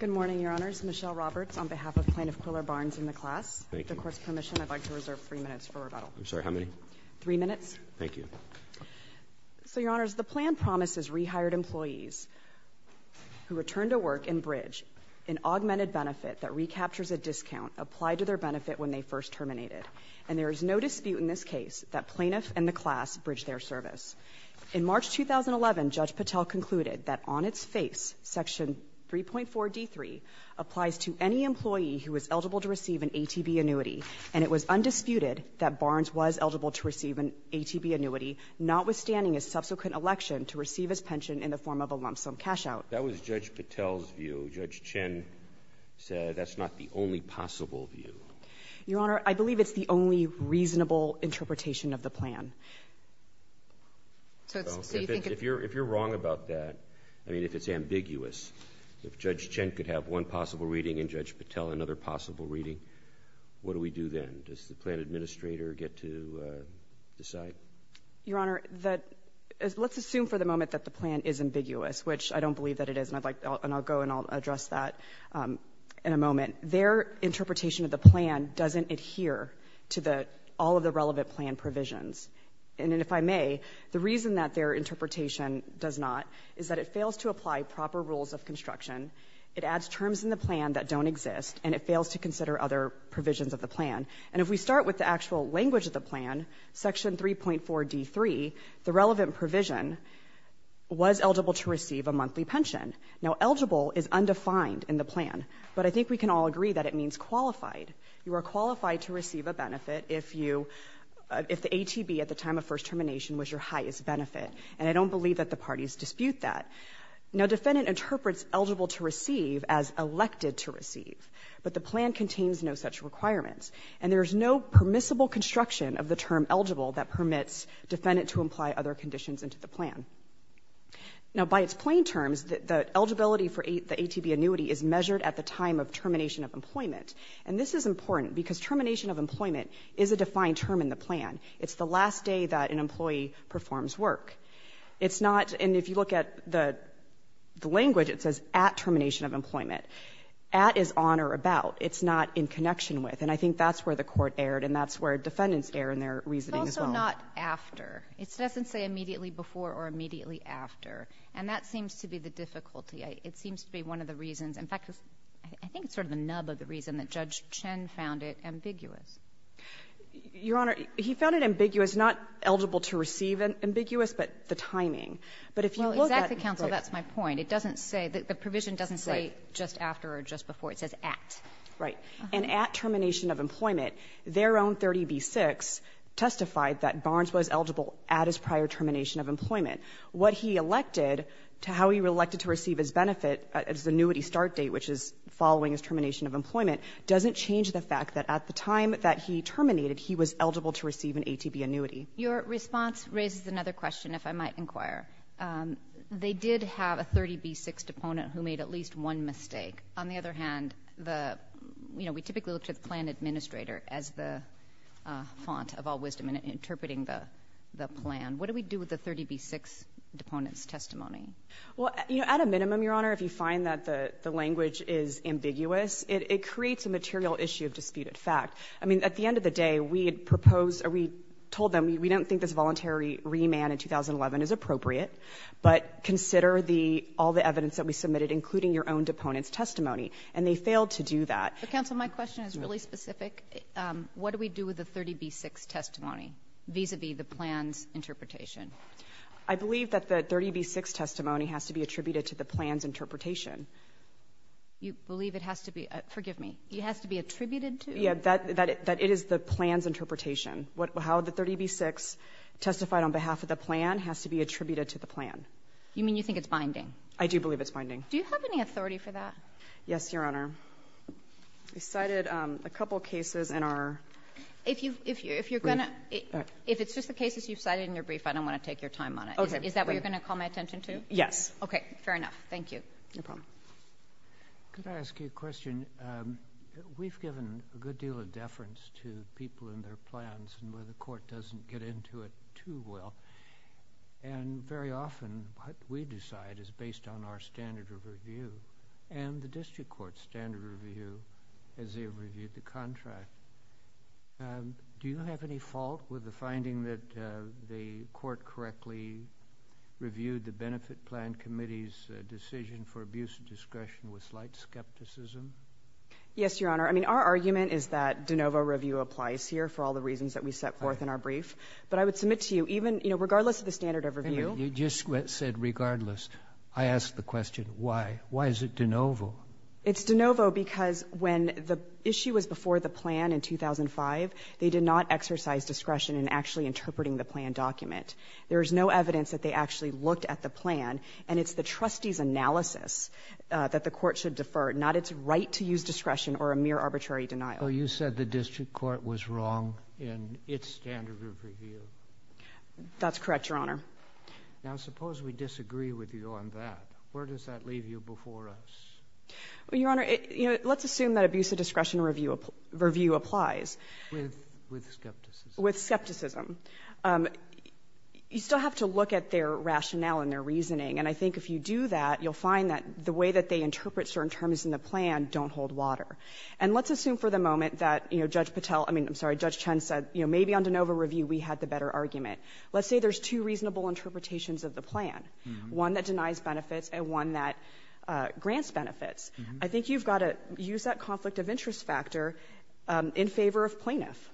Good morning, Your Honors. Michelle Roberts on behalf of Plaintiff Quiller Barnes and the class. With the Court's permission, I'd like to reserve three minutes for rebuttal. I'm sorry, how many? Three minutes. Thank you. So, Your Honors, the plan promises rehired employees who return to work and bridge an augmented benefit that recaptures a discount applied to their benefit when they first terminated. And there is no dispute in this case that plaintiff and the class bridge their service. In March 2011, Judge Patel concluded that on its face, Section 3.4.D.3 applies to any employee who is eligible to receive an ATB annuity. And it was undisputed that Barnes was eligible to receive an ATB annuity, notwithstanding his subsequent election to receive his pension in the form of a lump sum cashout. That was Judge Patel's view. Judge Chin said that's not the only possible view. Your Honor, I believe it's the only reasonable interpretation of the plan. So you think... If you're wrong about that, I mean, if it's ambiguous, if Judge Chin could have one possible reading and Judge Patel another possible reading, what do we do then? Does the plan administrator get to decide? Your Honor, let's assume for the moment that the plan is ambiguous, which I don't believe that it is, and I'll go and I'll address that in a moment. Their interpretation of the plan doesn't adhere to all of the relevant plan provisions. And if I may, the reason that their interpretation does not is that it fails to apply proper rules of construction, it adds terms in the plan that don't exist, and it fails to consider other provisions of the plan. And if we start with the actual language of the plan, Section 3.4d.3, the relevant provision was eligible to receive a monthly pension. Now, eligible is undefined in the plan, but I think we can all agree that it means qualified. You are qualified to receive a benefit if the ATB at the time of first termination was your highest benefit, and I don't believe that the parties dispute that. Now, defendant interprets eligible to receive as elected to receive, but the plan contains no such requirements. And there is no permissible construction of the term eligible that permits defendant to apply other conditions into the plan. Now, by its plain terms, the eligibility for the ATB annuity is measured at the time of termination of employment. And this is important because termination of employment is a defined term in the plan. It's the last day that an employee performs work. It's not — and if you look at the language, it says at termination of employment. At is on or about. It's not in connection with. And I think that's where the Court erred, and that's where defendants erred in their reasoning as well. It's also not after. It doesn't say immediately before or immediately after. And that seems to be the difficulty. It seems to be one of the reasons — in fact, I think it's sort of the nub of the reason that Judge Chen found it ambiguous. Your Honor, he found it ambiguous, not eligible to receive ambiguous, but the timing. But if you look at — Well, exactly, counsel. That's my point. It doesn't say — the provision doesn't say just after or just before. It says at. Right. And at termination of employment, their own 30b-6 testified that Barnes was eligible at his prior termination of employment. What he elected, how he elected to receive his benefit, his annuity start date, which is following his termination of employment, doesn't change the fact that at the time that he terminated, he was eligible to receive an ATB annuity. Your response raises another question, if I might inquire. They did have a 30b-6 deponent who made at least one mistake. On the other hand, the — you know, we typically look to the plan administrator as the font of all wisdom in interpreting the plan. What do we do with the 30b-6 deponent's testimony? Well, you know, at a minimum, Your Honor, if you find that the language is ambiguous, it creates a material issue of disputed fact. I mean, at the end of the day, we had proposed or we told them we don't think this voluntary remand in 2011 is appropriate, but consider the — all the evidence that we submitted, including your own deponent's testimony. And they failed to do that. But, counsel, my question is really specific. What do we do with the 30b-6 testimony vis-a-vis the plan's interpretation? I believe that the 30b-6 testimony has to be attributed to the plan's interpretation. You believe it has to be — forgive me. It has to be attributed to? Yeah, that it is the plan's interpretation. How the 30b-6 testified on behalf of the plan has to be attributed to the plan. You mean you think it's binding? I do believe it's binding. Do you have any authority for that? Yes, Your Honor. We cited a couple cases in our — If you're going to — if it's just the cases you've cited in your brief, I don't want to take your time on it. Is that what you're going to call my attention Yes. Okay. Fair enough. Thank you. No problem. Could I ask you a question? We've given a good deal of deference to people and their plans and where the court doesn't get into it too well. And very often what we decide is based on our standard of review and the district court's standard of review as they review the contract. Do you have any fault with the finding that the court correctly reviewed the Benefit Plan Committee's decision for abuse of discretion with slight skepticism? Yes, Your Honor. I mean, our argument is that de novo review applies here for all the reasons that we set forth in our brief. But I would submit to you, even — you know, regardless of the standard of review — Wait a minute. You just said regardless. I ask the question, why? Why is it de novo? It's de novo because when the issue was before the plan in 2005, they did not exercise discretion in actually interpreting the plan document. There is no evidence that they actually looked at the plan, and it's the trustee's analysis that the court should defer, not its right to use discretion or a mere arbitrary denial. Well, you said the district court was wrong in its standard of review. That's correct, Your Honor. Now, suppose we disagree with you on that. Where does that leave you before us? Well, Your Honor, let's assume that abuse of discretion review applies. With skepticism. With skepticism. You still have to look at their rationale and their reasoning. And I think if you do that, you'll find that the way that they interpret certain terms in the plan don't hold water. And let's assume for the moment that, you know, Judge Patel — I mean, I'm sorry, Judge Chen said, you know, maybe on de novo review we had the better argument. Let's say there's two reasonable interpretations of the plan, one that denies benefits and one that grants benefits. I think you've got to use that conflict of interest factor in favor of plaintiff.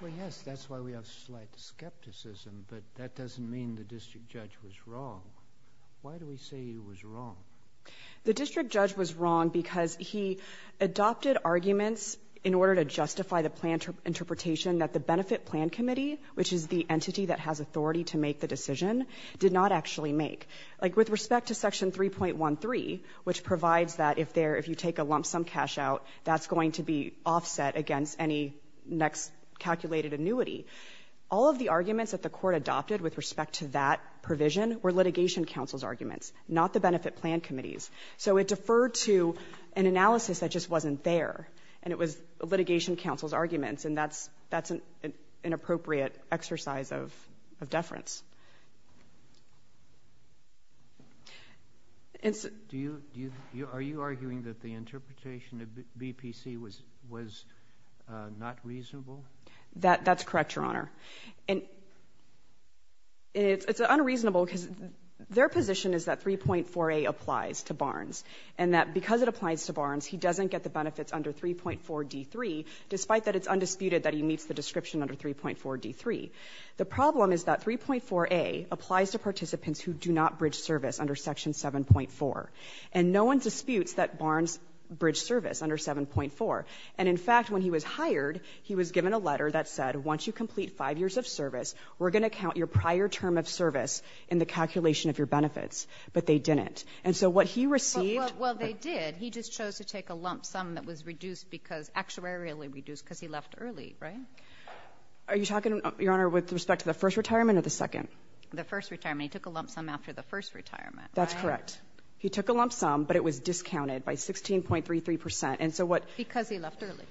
Well, yes, that's why we have slight skepticism, but that doesn't mean the district judge was wrong. Why do we say he was wrong? The district judge was wrong because he adopted arguments in order to justify the plan interpretation that the Benefit Plan Committee, which is the entity that has authority to make the decision, did not actually make. Like, with respect to Section 3.13, which provides that if you take a lump sum cash out, that's going to be offset against any next calculated annuity, all of the arguments that the Court adopted with respect to that provision were litigation counsel's arguments, not the Benefit Plan Committee's. So it deferred to an analysis that just wasn't there, and it was litigation counsel's arguments, and that's an appropriate exercise of deference. Are you arguing that the interpretation of BPC was not reasonable? That's correct, Your Honor. And it's unreasonable because their position is that 3.4a applies to Barnes, and that because it applies to Barnes, he doesn't get the benefits under 3.4d3, despite that it's undisputed that he meets the description under 3.4d3. The problem is that 3.4a applies to participants who do not bridge service under Section 7.4, and no one disputes that Barnes bridged service under 7.4. And, in fact, when he was hired, he was given a letter that said, once you complete 5 years of service, we're going to count your prior term of service in the calculation of your benefits, but they didn't. And so what he received was the same. Well, they did. He just chose to take a lump sum that was reduced because actuarily reduced because he left early, right? Are you talking, Your Honor, with respect to the first retirement or the second? The first retirement. He took a lump sum after the first retirement, right? That's correct. He took a lump sum, but it was discounted by 16.33 percent. And so what — Because he left early.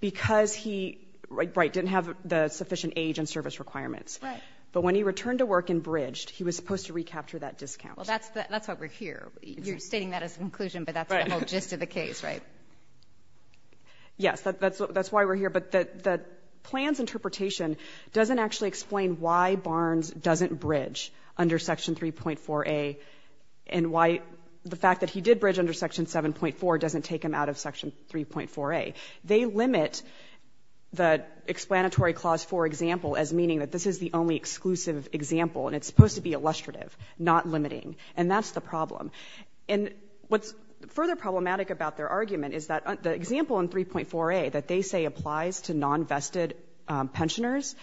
Because he, right, didn't have the sufficient age and service requirements. Right. But when he returned to work and bridged, he was supposed to recapture that discount. Well, that's why we're here. You're stating that as an inclusion, but that's the whole gist of the case, right? Yes. That's why we're here. But the plan's interpretation doesn't actually explain why Barnes doesn't bridge under Section 3.4a and why the fact that he did bridge under Section 7.4 doesn't take him out of Section 3.4a. They limit the explanatory clause for example as meaning that this is the only exclusive example, and it's supposed to be illustrative, not limiting. And that's the problem. And what's further problematic about their argument is that the example in 3.4a that they say applies to non-vested pensioners,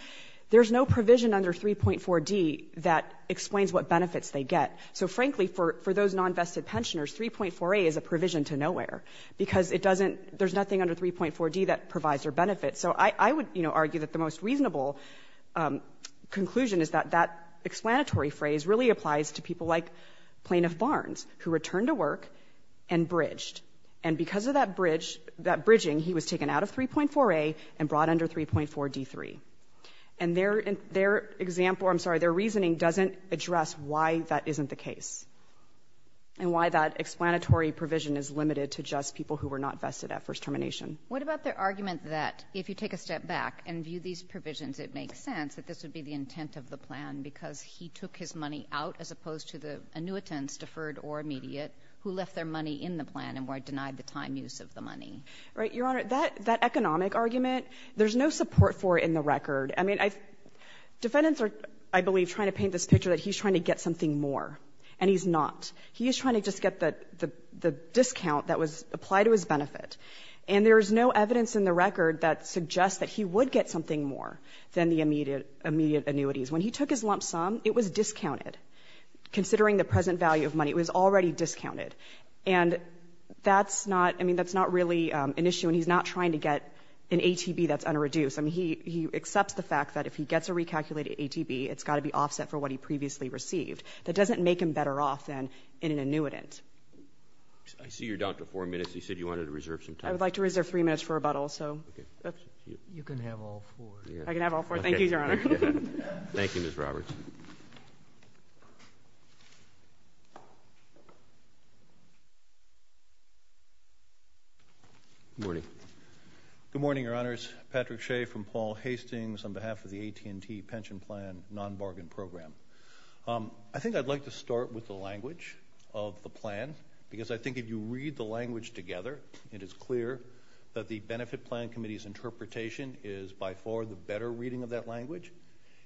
there's no provision under 3.4d that explains what benefits they get. So frankly, for those non-vested pensioners, 3.4a is a provision to nowhere because it doesn't — there's nothing under 3.4d that provides their benefits. So I would, you know, argue that the most reasonable conclusion is that that and bridged. And because of that bridge — that bridging, he was taken out of 3.4a and brought under 3.4d3. And their — their example — I'm sorry, their reasoning doesn't address why that isn't the case and why that explanatory provision is limited to just people who were not vested at first termination. What about their argument that if you take a step back and view these provisions, it makes sense that this would be the intent of the plan because he took his money out as opposed to the annuitants, deferred or immediate, who left their money in the plan and were denied the time use of the money? Right. Your Honor, that — that economic argument, there's no support for it in the record. I mean, I — defendants are, I believe, trying to paint this picture that he's trying to get something more, and he's not. He is trying to just get the — the discount that was applied to his benefit. And there is no evidence in the record that suggests that he would get something more than the immediate annuities. When he took his lump sum, it was discounted. Considering the present value of money, it was already discounted. And that's not — I mean, that's not really an issue, and he's not trying to get an ATB that's under-reduced. I mean, he — he accepts the fact that if he gets a recalculated ATB, it's got to be offset for what he previously received. That doesn't make him better off than in an annuitant. I see you're down to four minutes. You said you wanted to reserve some time. I would like to reserve three minutes for rebuttal, so. You can have all four. I can have all four. Thank you, Your Honor. Thank you, Ms. Roberts. Good morning. Good morning, Your Honors. Patrick Shea from Paul Hastings on behalf of the AT&T Pension Plan Non-Bargain Program. I think I'd like to start with the language of the plan, because I think if you read the language together, it is clear that the Benefit Plan Committee's interpretation is by far the better reading of that language,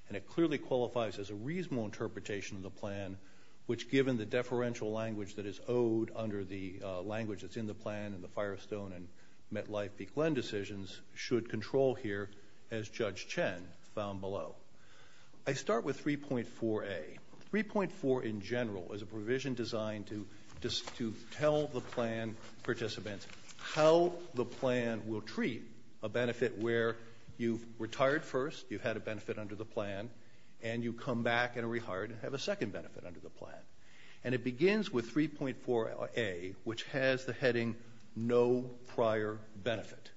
and it clearly qualifies as a reasonable interpretation of the plan, which, given the deferential language that is owed under the language that's in the plan and the Firestone and MetLife Beech-Len decisions, should control here, as Judge Chen found below. I start with 3.4a. 3.4 in general is a provision designed to tell the plan participants how the plan will treat a benefit where you've retired first, you've had a benefit under the plan, and you come back and are rehired and have a second benefit under the plan. And it begins with 3.4a, which has the heading no prior benefit.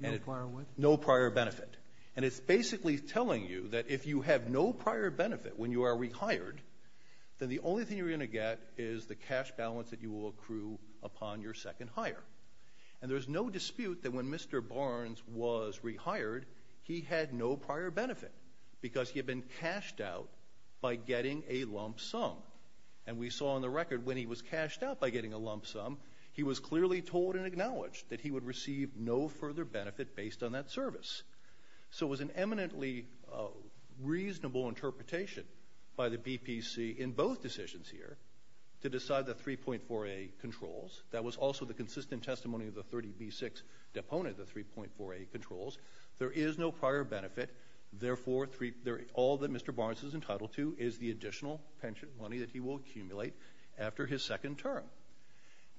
No prior what? No prior benefit. And it's basically telling you that if you have no prior benefit when you are rehired, then the only thing you're going to get is the cash balance that you will accrue upon your second hire. And there's no dispute that when Mr. Barnes was rehired, he had no prior benefit because he had been cashed out by getting a lump sum. And we saw on the record when he was cashed out by getting a lump sum, he was clearly told and acknowledged that he would receive no further benefit based on that service. So it was an eminently reasonable interpretation by the BPC in both decisions here to decide the 3.4a controls. That was also the consistent testimony of the 30b6 deponent, the 3.4a controls. There is no prior benefit. Therefore, all that Mr. Barnes is entitled to is the additional pension money that he will accumulate after his second term.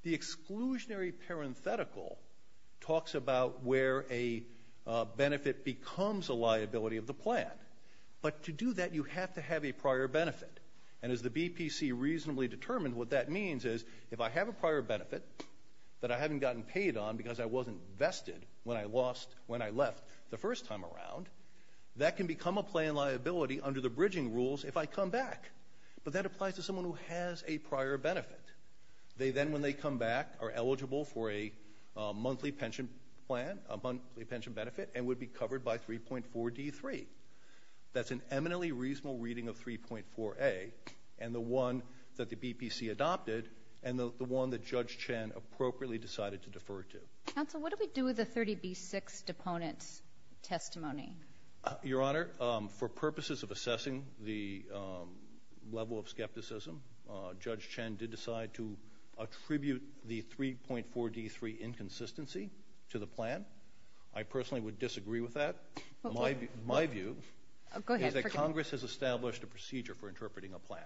The exclusionary parenthetical talks about where a benefit becomes a liability of the plan. But to do that, you have to have a prior benefit. And as the BPC reasonably determined, what that means is if I have a prior benefit that I haven't gotten paid on because I wasn't vested when I left the first time around, that can become a plan liability under the bridging rules if I come back. But that applies to someone who has a prior benefit. They then, when they come back, are eligible for a monthly pension plan, a monthly pension benefit, and would be covered by 3.4d3. That's an eminently reasonable reading of 3.4a and the one that the BPC adopted and the one that Judge Chen appropriately decided to defer to. Counsel, what do we do with the 30b6 deponent's testimony? Your Honor, for purposes of assessing the level of skepticism, Judge Chen did decide to attribute the 3.4d3 inconsistency to the plan. I personally would disagree with that. My view is that Congress has established a procedure for interpreting a plan.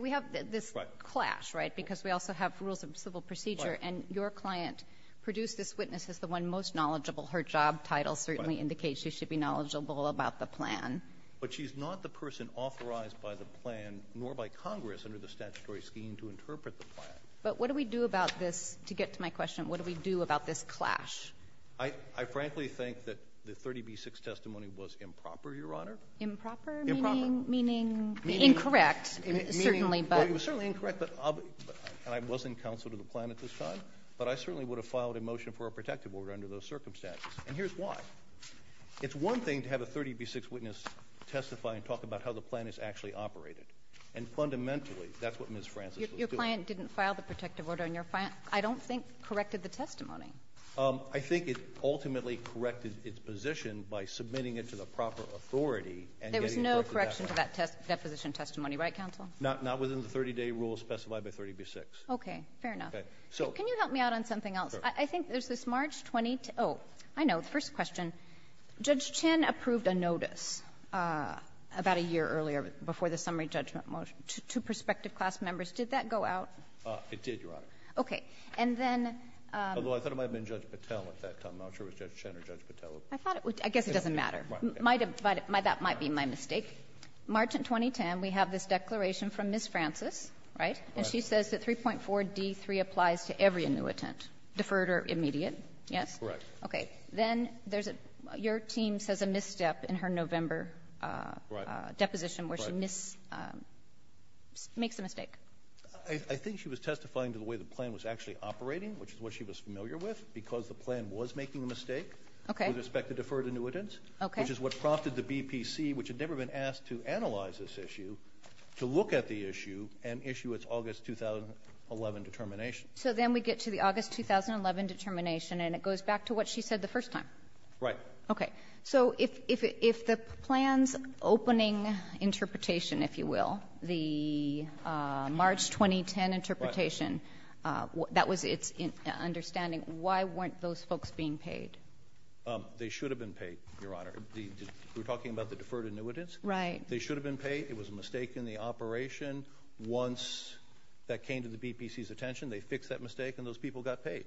We have this clash, right, because we also have rules of civil procedure, and your client produced this witness as the one most knowledgeable. Her job title certainly indicates she should be knowledgeable about the plan. But she's not the person authorized by the plan nor by Congress under the statutory scheme to interpret the plan. But what do we do about this? To get to my question, what do we do about this clash? I frankly think that the 30b6 testimony was improper, Your Honor. Improper? Improper. Meaning? Incorrect, certainly. It was certainly incorrect, and I wasn't counsel to the plan at this time, but I certainly would have filed a motion for a protective order under those circumstances. And here's why. It's one thing to have a 30b6 witness testify and talk about how the plan is actually operated, and fundamentally that's what Ms. Francis was doing. the testimony. I think it ultimately corrected its position by submitting it to the proper authority and getting it back to the defense. There was no correction to that deposition testimony, right, counsel? Not within the 30-day rule specified by 30b6. Okay. Fair enough. Okay. So can you help me out on something else? Sure. I think there's this March 22 — oh, I know, the first question. Judge Chin approved a notice about a year earlier before the summary judgment motion to prospective class members. Did that go out? It did, Your Honor. Okay. And then — Although I thought it might have been Judge Patel at that time. I'm not sure if it was Judge Chin or Judge Patel. I thought it was — I guess it doesn't matter. Right. That might be my mistake. March 2010, we have this declaration from Ms. Francis, right? Right. And she says that 3.4d3 applies to every annuitant, deferred or immediate. Yes? Correct. Okay. Then there's a — your team says a misstep in her November deposition where she makes a mistake. I think she was testifying to the way the plan was actually operating, which is what she was familiar with, because the plan was making a mistake. Okay. With respect to deferred annuitants. Okay. Which is what prompted the BPC, which had never been asked to analyze this issue, to look at the issue and issue its August 2011 determination. So then we get to the August 2011 determination, and it goes back to what she said the first time. Right. Okay. So if the plan's opening interpretation, if you will, the March 2010 interpretation, that was its understanding, why weren't those folks being paid? They should have been paid, Your Honor. We're talking about the deferred annuitants. Right. They should have been paid. It was a mistake in the operation. Once that came to the BPC's attention, they fixed that mistake, and those people got paid.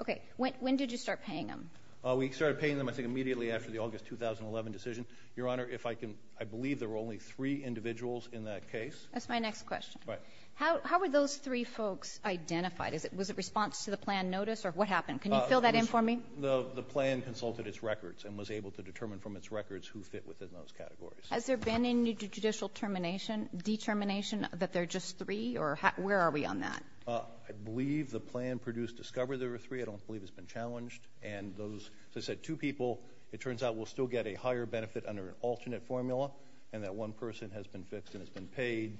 Okay. When did you start paying them? We started paying them, I think, immediately after the August 2011 decision. Your Honor, if I can — I believe there were only three individuals in that case. That's my next question. Right. How were those three folks identified? Was it response to the plan notice, or what happened? Can you fill that in for me? The plan consulted its records and was able to determine from its records who fit within those categories. Has there been any judicial determination that there are just three, or where are we on that? I believe the plan produced discovery there were three. I don't believe it's been challenged. And those, as I said, two people. It turns out we'll still get a higher benefit under an alternate formula, and that one person has been fixed and has been paid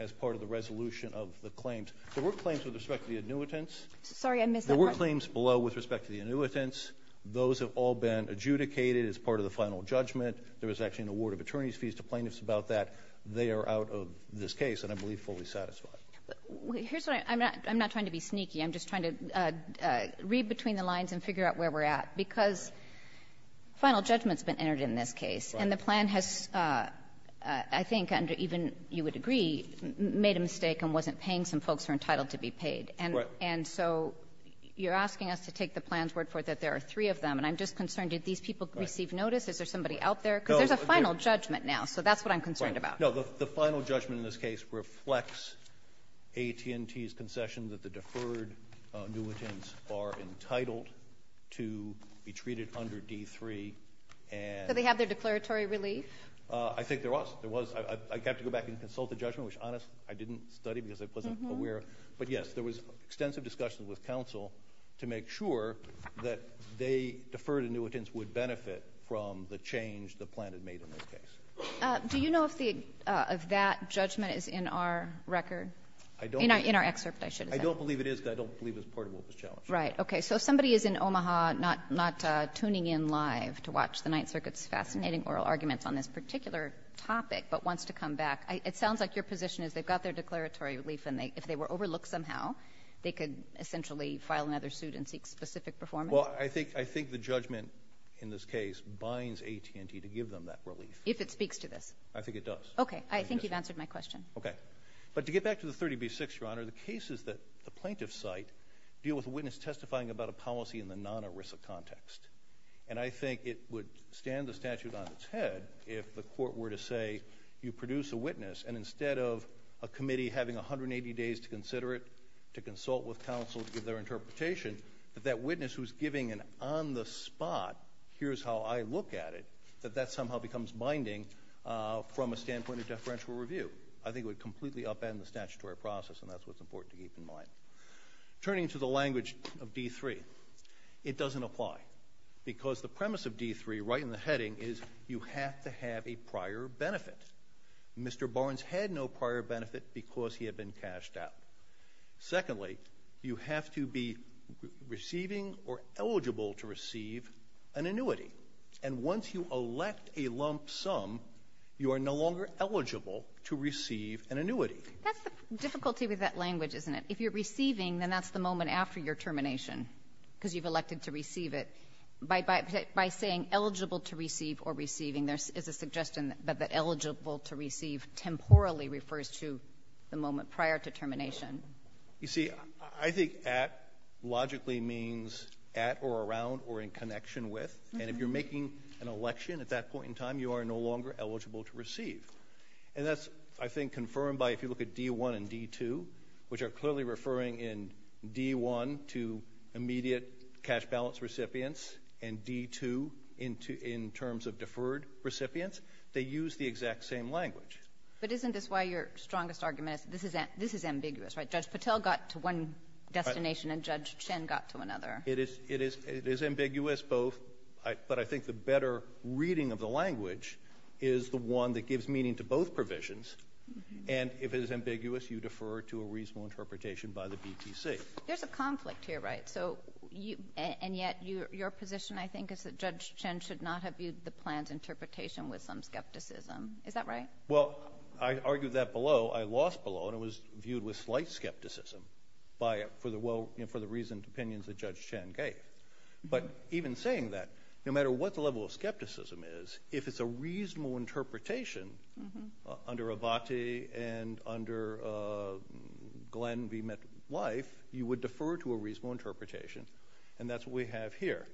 as part of the resolution of the claims. There were claims with respect to the annuitants. Sorry, I missed that part. There were claims below with respect to the annuitants. Those have all been adjudicated as part of the final judgment. There was actually an award of attorney's fees to plaintiffs about that. They are out of this case, and I believe fully satisfied. Here's what I'm — I'm not trying to be sneaky. I'm just trying to read between the lines and figure out where we're at, because final judgment's been entered in this case. Right. And the plan has, I think, even you would agree, made a mistake and wasn't paying some folks who are entitled to be paid. Right. And so you're asking us to take the plan's word for it that there are three of them. And I'm just concerned. Did these people receive notice? Is there somebody out there? Because there's a final judgment now. So that's what I'm concerned about. Right. No, the final judgment in this case reflects AT&T's concession that the deferred annuitants are entitled to be treated under D-3 and — So they have their declaratory relief? I think there was. There was. I got to go back and consult the judgment, which, honest, I didn't study because I wasn't aware. But, yes, there was extensive discussion with counsel to make sure that they, deferred annuitants, would benefit from the change the plan had made in this case. Do you know if that judgment is in our record? In our excerpt, I should have said. I don't believe it is, but I don't believe it's part of what was challenged. Right. Okay. So if somebody is in Omaha not tuning in live to watch the Ninth Circuit's fascinating oral arguments on this particular topic but wants to come back, it sounds like your position is they've got their declaratory relief, and if they were overlooked somehow, they could essentially file another suit and seek specific performance? Well, I think the judgment in this case binds AT&T to give them that relief. If it speaks to this? I think it does. Okay. I think you've answered my question. Okay. But to get back to the 30B-6, Your Honor, the cases that the plaintiffs cite deal with a witness testifying about a policy in the non-ERISA context. And I think it would stand the statute on its head if the court were to say, you produce a witness, and instead of a committee having 180 days to consider it, to consult with counsel to give their interpretation, that that witness who's giving an on-the-spot, here's how I look at it, that that somehow becomes binding from a standpoint of deferential review. I think it would completely upend the statutory process, and that's what's important to keep in mind. Turning to the language of D-3, it doesn't apply. Because the premise of D-3, right in the heading, is you have to have a prior benefit. Mr. Barnes had no prior benefit because he had been cashed out. Secondly, you have to be receiving or eligible to receive an annuity. And once you elect a lump sum, you are no longer eligible to receive an annuity. That's the difficulty with that language, isn't it? If you're receiving, then that's the moment after your termination, because you've elected to receive it. By saying eligible to receive or receiving, there is a suggestion that eligible to receive temporally refers to the moment prior to termination. You see, I think at logically means at or around or in connection with. And if you're making an election at that point in time, you are no longer eligible to receive. And that's, I think, confirmed by if you look at D-1 and D-2, which are clearly referring in D-1 to immediate cash balance recipients and D-2 in terms of deferred recipients. They use the exact same language. But isn't this why your strongest argument is this is ambiguous, right? Judge Patel got to one destination and Judge Chen got to another. It is ambiguous both. But I think the better reading of the language is the one that gives meaning to both provisions. And if it is ambiguous, you defer to a reasonable interpretation by the BTC. There's a conflict here, right? And yet your position, I think, is that Judge Chen should not have viewed the plan's interpretation with some skepticism. Is that right? Well, I argued that below. I lost below, and it was viewed with slight skepticism for the reasoned opinions that Judge Chen gave. But even saying that, no matter what the level of skepticism is, if it's a reasonable interpretation under Avate and under Glenn v. MetLife, you would defer to a reasonable interpretation, and that's what we have here,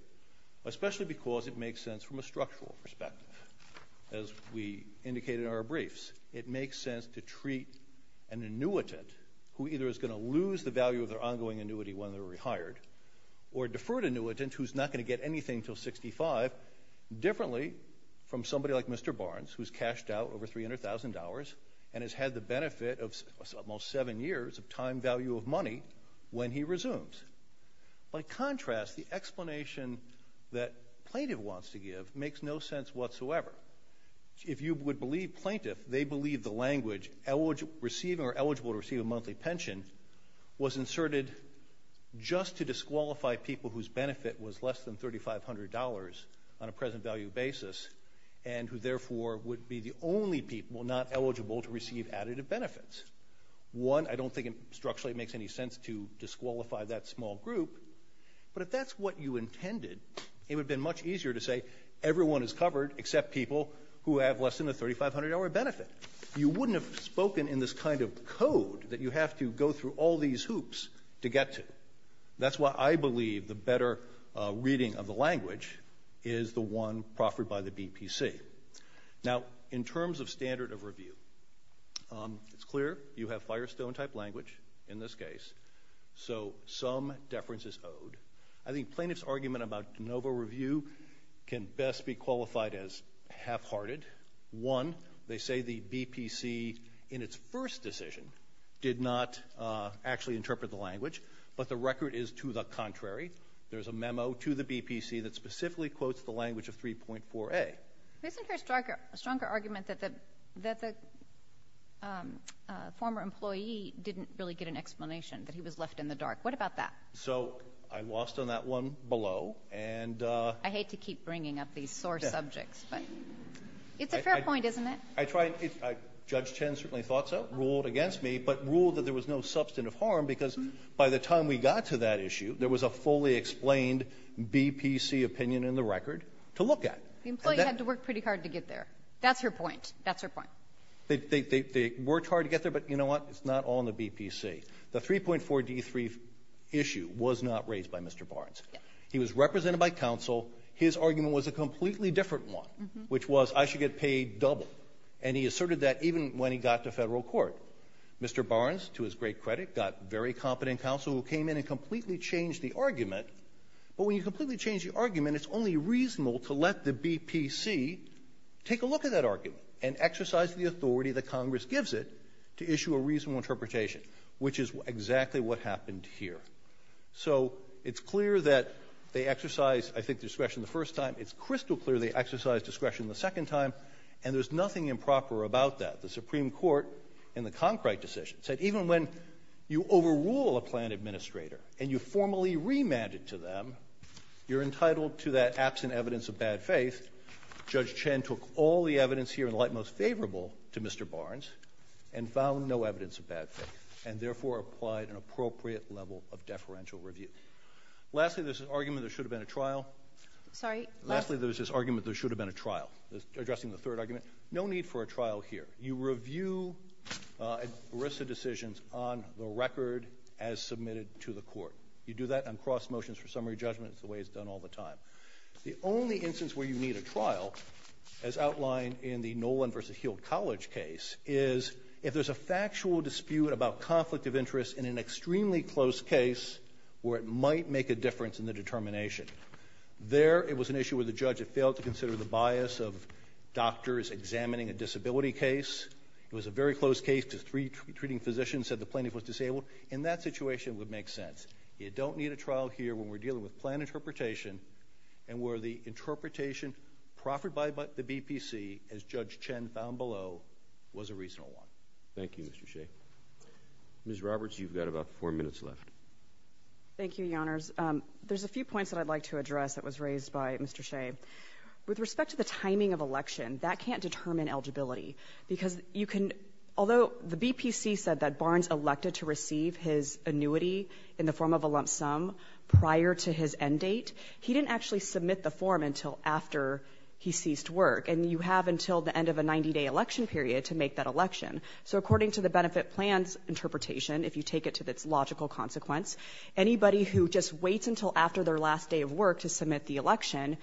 especially because it makes sense from a structural perspective. As we indicated in our briefs, it makes sense to treat an annuitant who either is going to lose the value of their ongoing annuity when they're rehired or defer to an annuitant who's not going to get anything until 65, differently from somebody like Mr. Barnes, who's cashed out over $300,000 and has had the benefit of almost seven years of time value of money when he resumes. By contrast, the explanation that plaintiff wants to give makes no sense whatsoever. If you would believe plaintiff, they believe the language, or eligible to receive a monthly pension, was inserted just to disqualify people whose benefit was less than $3,500 on a present value basis and who therefore would be the only people not eligible to receive additive benefits. One, I don't think structurally it makes any sense to disqualify that small group, but if that's what you intended, it would have been much easier to say everyone is covered except people who have less than the $3,500 benefit. You wouldn't have spoken in this kind of code that you have to go through all these hoops to get to. That's why I believe the better reading of the language is the one proffered by the BPC. Now, in terms of standard of review, it's clear you have Firestone-type language in this case, so some deference is owed. I think plaintiff's argument about de novo review can best be qualified as half-hearted. One, they say the BPC in its first decision did not actually interpret the language, but the record is to the contrary. There's a memo to the BPC that specifically quotes the language of 3.4a. Isn't there a stronger argument that the former employee didn't really get an explanation, that he was left in the dark? What about that? So I lost on that one below. I hate to keep bringing up these sore subjects, but it's a fair point, isn't it? Judge Chen certainly thought so, ruled against me, but ruled that there was no substantive harm because by the time we got to that issue, there was a fully explained BPC opinion in the record to look at. The employee had to work pretty hard to get there. That's her point. That's her point. They worked hard to get there, but you know what? It's not all in the BPC. The 3.4d.3 issue was not raised by Mr. Barnes. He was represented by counsel. His argument was a completely different one, which was I should get paid double. And he asserted that even when he got to Federal court. Mr. Barnes, to his great credit, got very competent counsel who came in and completely changed the argument. But when you completely change the argument, it's only reasonable to let the BPC take a look at that argument and exercise the authority that Congress gives it to issue a reasonable interpretation, which is exactly what happened here. So it's clear that they exercised, I think, discretion the first time. It's crystal clear they exercised discretion the second time, and there's nothing improper about that. The Supreme Court in the Conkright decision said even when you overrule a plan administrator and you formally remand it to them, you're entitled to that absent evidence of bad faith. Judge Chen took all the evidence here and the light most favorable to Mr. Barnes and found no evidence of bad faith, and therefore applied an appropriate level of deferential review. Lastly, there's this argument there should have been a trial. Lastly, there's this argument there should have been a trial. Addressing the third argument, no need for a trial here. You review ERISA decisions on the record as submitted to the Court. You do that on cross motions for summary judgment. It's the way it's done all the time. The only instance where you need a trial, as outlined in the Nolan v. Heald College case, is if there's a factual dispute about conflict of interest in an extremely close case where it might make a difference in the determination. There, it was an issue where the judge had failed to consider the bias of doctors examining a disability case. It was a very close case because three treating physicians said the plaintiff was disabled. In that situation, it would make sense. You don't need a trial here when we're dealing with plan interpretation and where the was a reasonable one. Thank you, Mr. Shea. Ms. Roberts, you've got about four minutes left. Thank you, Your Honors. There's a few points that I'd like to address that was raised by Mr. Shea. With respect to the timing of election, that can't determine eligibility because you can, although the BPC said that Barnes elected to receive his annuity in the form of a lump sum prior to his end date, he didn't actually submit the form until after he ceased work. And you have until the end of a 90-day election period to make that election. So according to the benefit plan's interpretation, if you take it to its logical consequence, anybody who just waits until after their last day of work to submit the election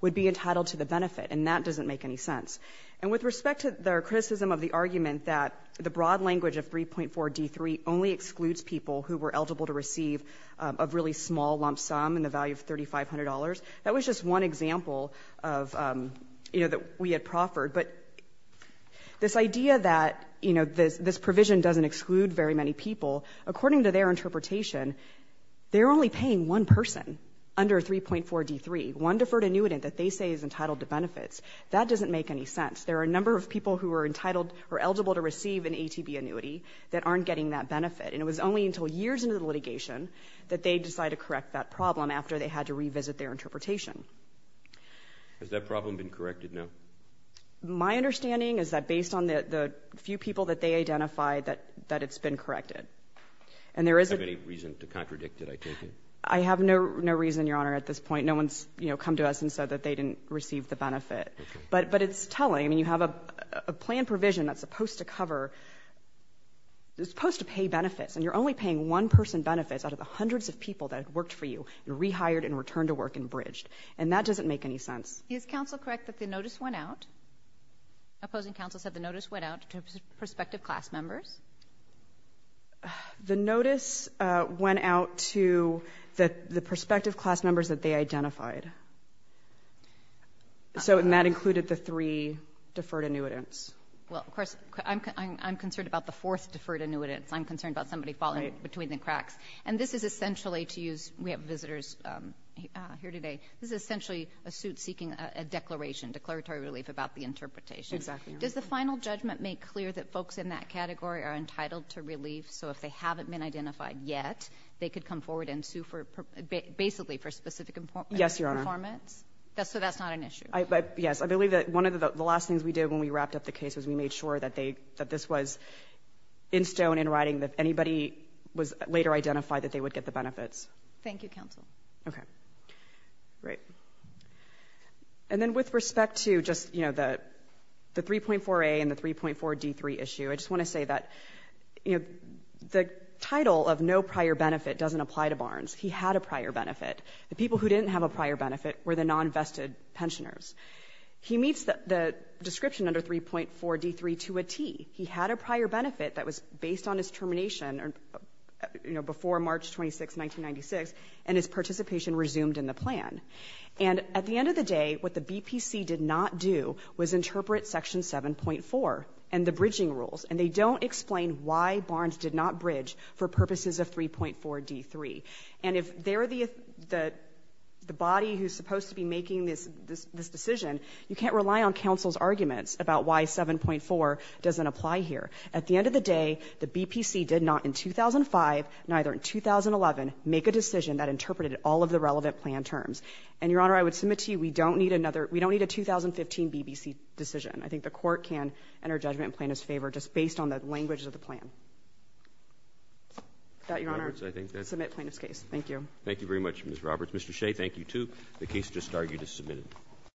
would be entitled to the benefit. And that doesn't make any sense. And with respect to their criticism of the argument that the broad language of 3.4D3 only excludes people who were eligible to receive a really small lump sum in the value of $3,500, that was just one example of, you know, that we had proffered. But this idea that, you know, this provision doesn't exclude very many people, according to their interpretation, they're only paying one person under 3.4D3, one deferred annuitant that they say is entitled to benefits. That doesn't make any sense. There are a number of people who are entitled or eligible to receive an ATB annuity that aren't getting that benefit. And it was only until years into the litigation that they decided to correct that problem after they had to revisit their interpretation. Has that problem been corrected now? My understanding is that based on the few people that they identified, that it's been corrected. And there is a – Do you have any reason to contradict it, I take it? I have no reason, Your Honor, at this point. No one's, you know, come to us and said that they didn't receive the benefit. Okay. But it's telling. I mean, you have a plan provision that's supposed to cover – that's supposed to pay benefits. And you're only paying one person benefits out of the hundreds of people that have worked for you. You're rehired and returned to work and bridged. And that doesn't make any sense. Is counsel correct that the notice went out? Opposing counsel said the notice went out to prospective class members? The notice went out to the prospective class members that they identified. So that included the three deferred annuitants. Well, of course, I'm concerned about the fourth deferred annuitants. I'm concerned about somebody falling between the cracks. Right. And this is essentially to use – we have visitors here today. This is essentially a suit seeking a declaration, declaratory relief about the interpretation. Exactly. Does the final judgment make clear that folks in that category are entitled to relief? So if they haven't been identified yet, they could come forward and sue for – basically for specific performance? Yes, Your Honor. So that's not an issue? Yes. I believe that one of the last things we did when we wrapped up the case was we made sure that they – that this was in stone, in writing, that anybody was later identified that they would get the benefits. Thank you, counsel. Okay. Great. And then with respect to just, you know, the 3.4a and the 3.4d3 issue, I just want to say that, you know, the title of no prior benefit doesn't apply to Barnes. He had a prior benefit. The people who didn't have a prior benefit were the non-vested pensioners. He meets the description under 3.4d3 to a T. He had a prior benefit that was based on his termination, you know, before March 26, 1996, and his participation resumed in the plan. And at the end of the day, what the BPC did not do was interpret Section 7.4 and the bridging rules, and they don't explain why Barnes did not bridge for purposes of 3.4d3. And if they're the body who's supposed to be making this decision, you can't rely on counsel's arguments about why 7.4 doesn't apply here. At the end of the day, the BPC did not, in 2005, neither in 2011, make a decision that interpreted all of the relevant plan terms. And, Your Honor, I would submit to you we don't need another — we don't need a 2015 BBC decision. I think the Court can enter judgment in Plaintiff's favor just based on the language of the plan. Without Your Honor — Roberts, I think that's — Submit Plaintiff's case. Thank you. Thank you very much, Ms. Roberts. Mr. Shea, thank you, too. The case just argued is submitted.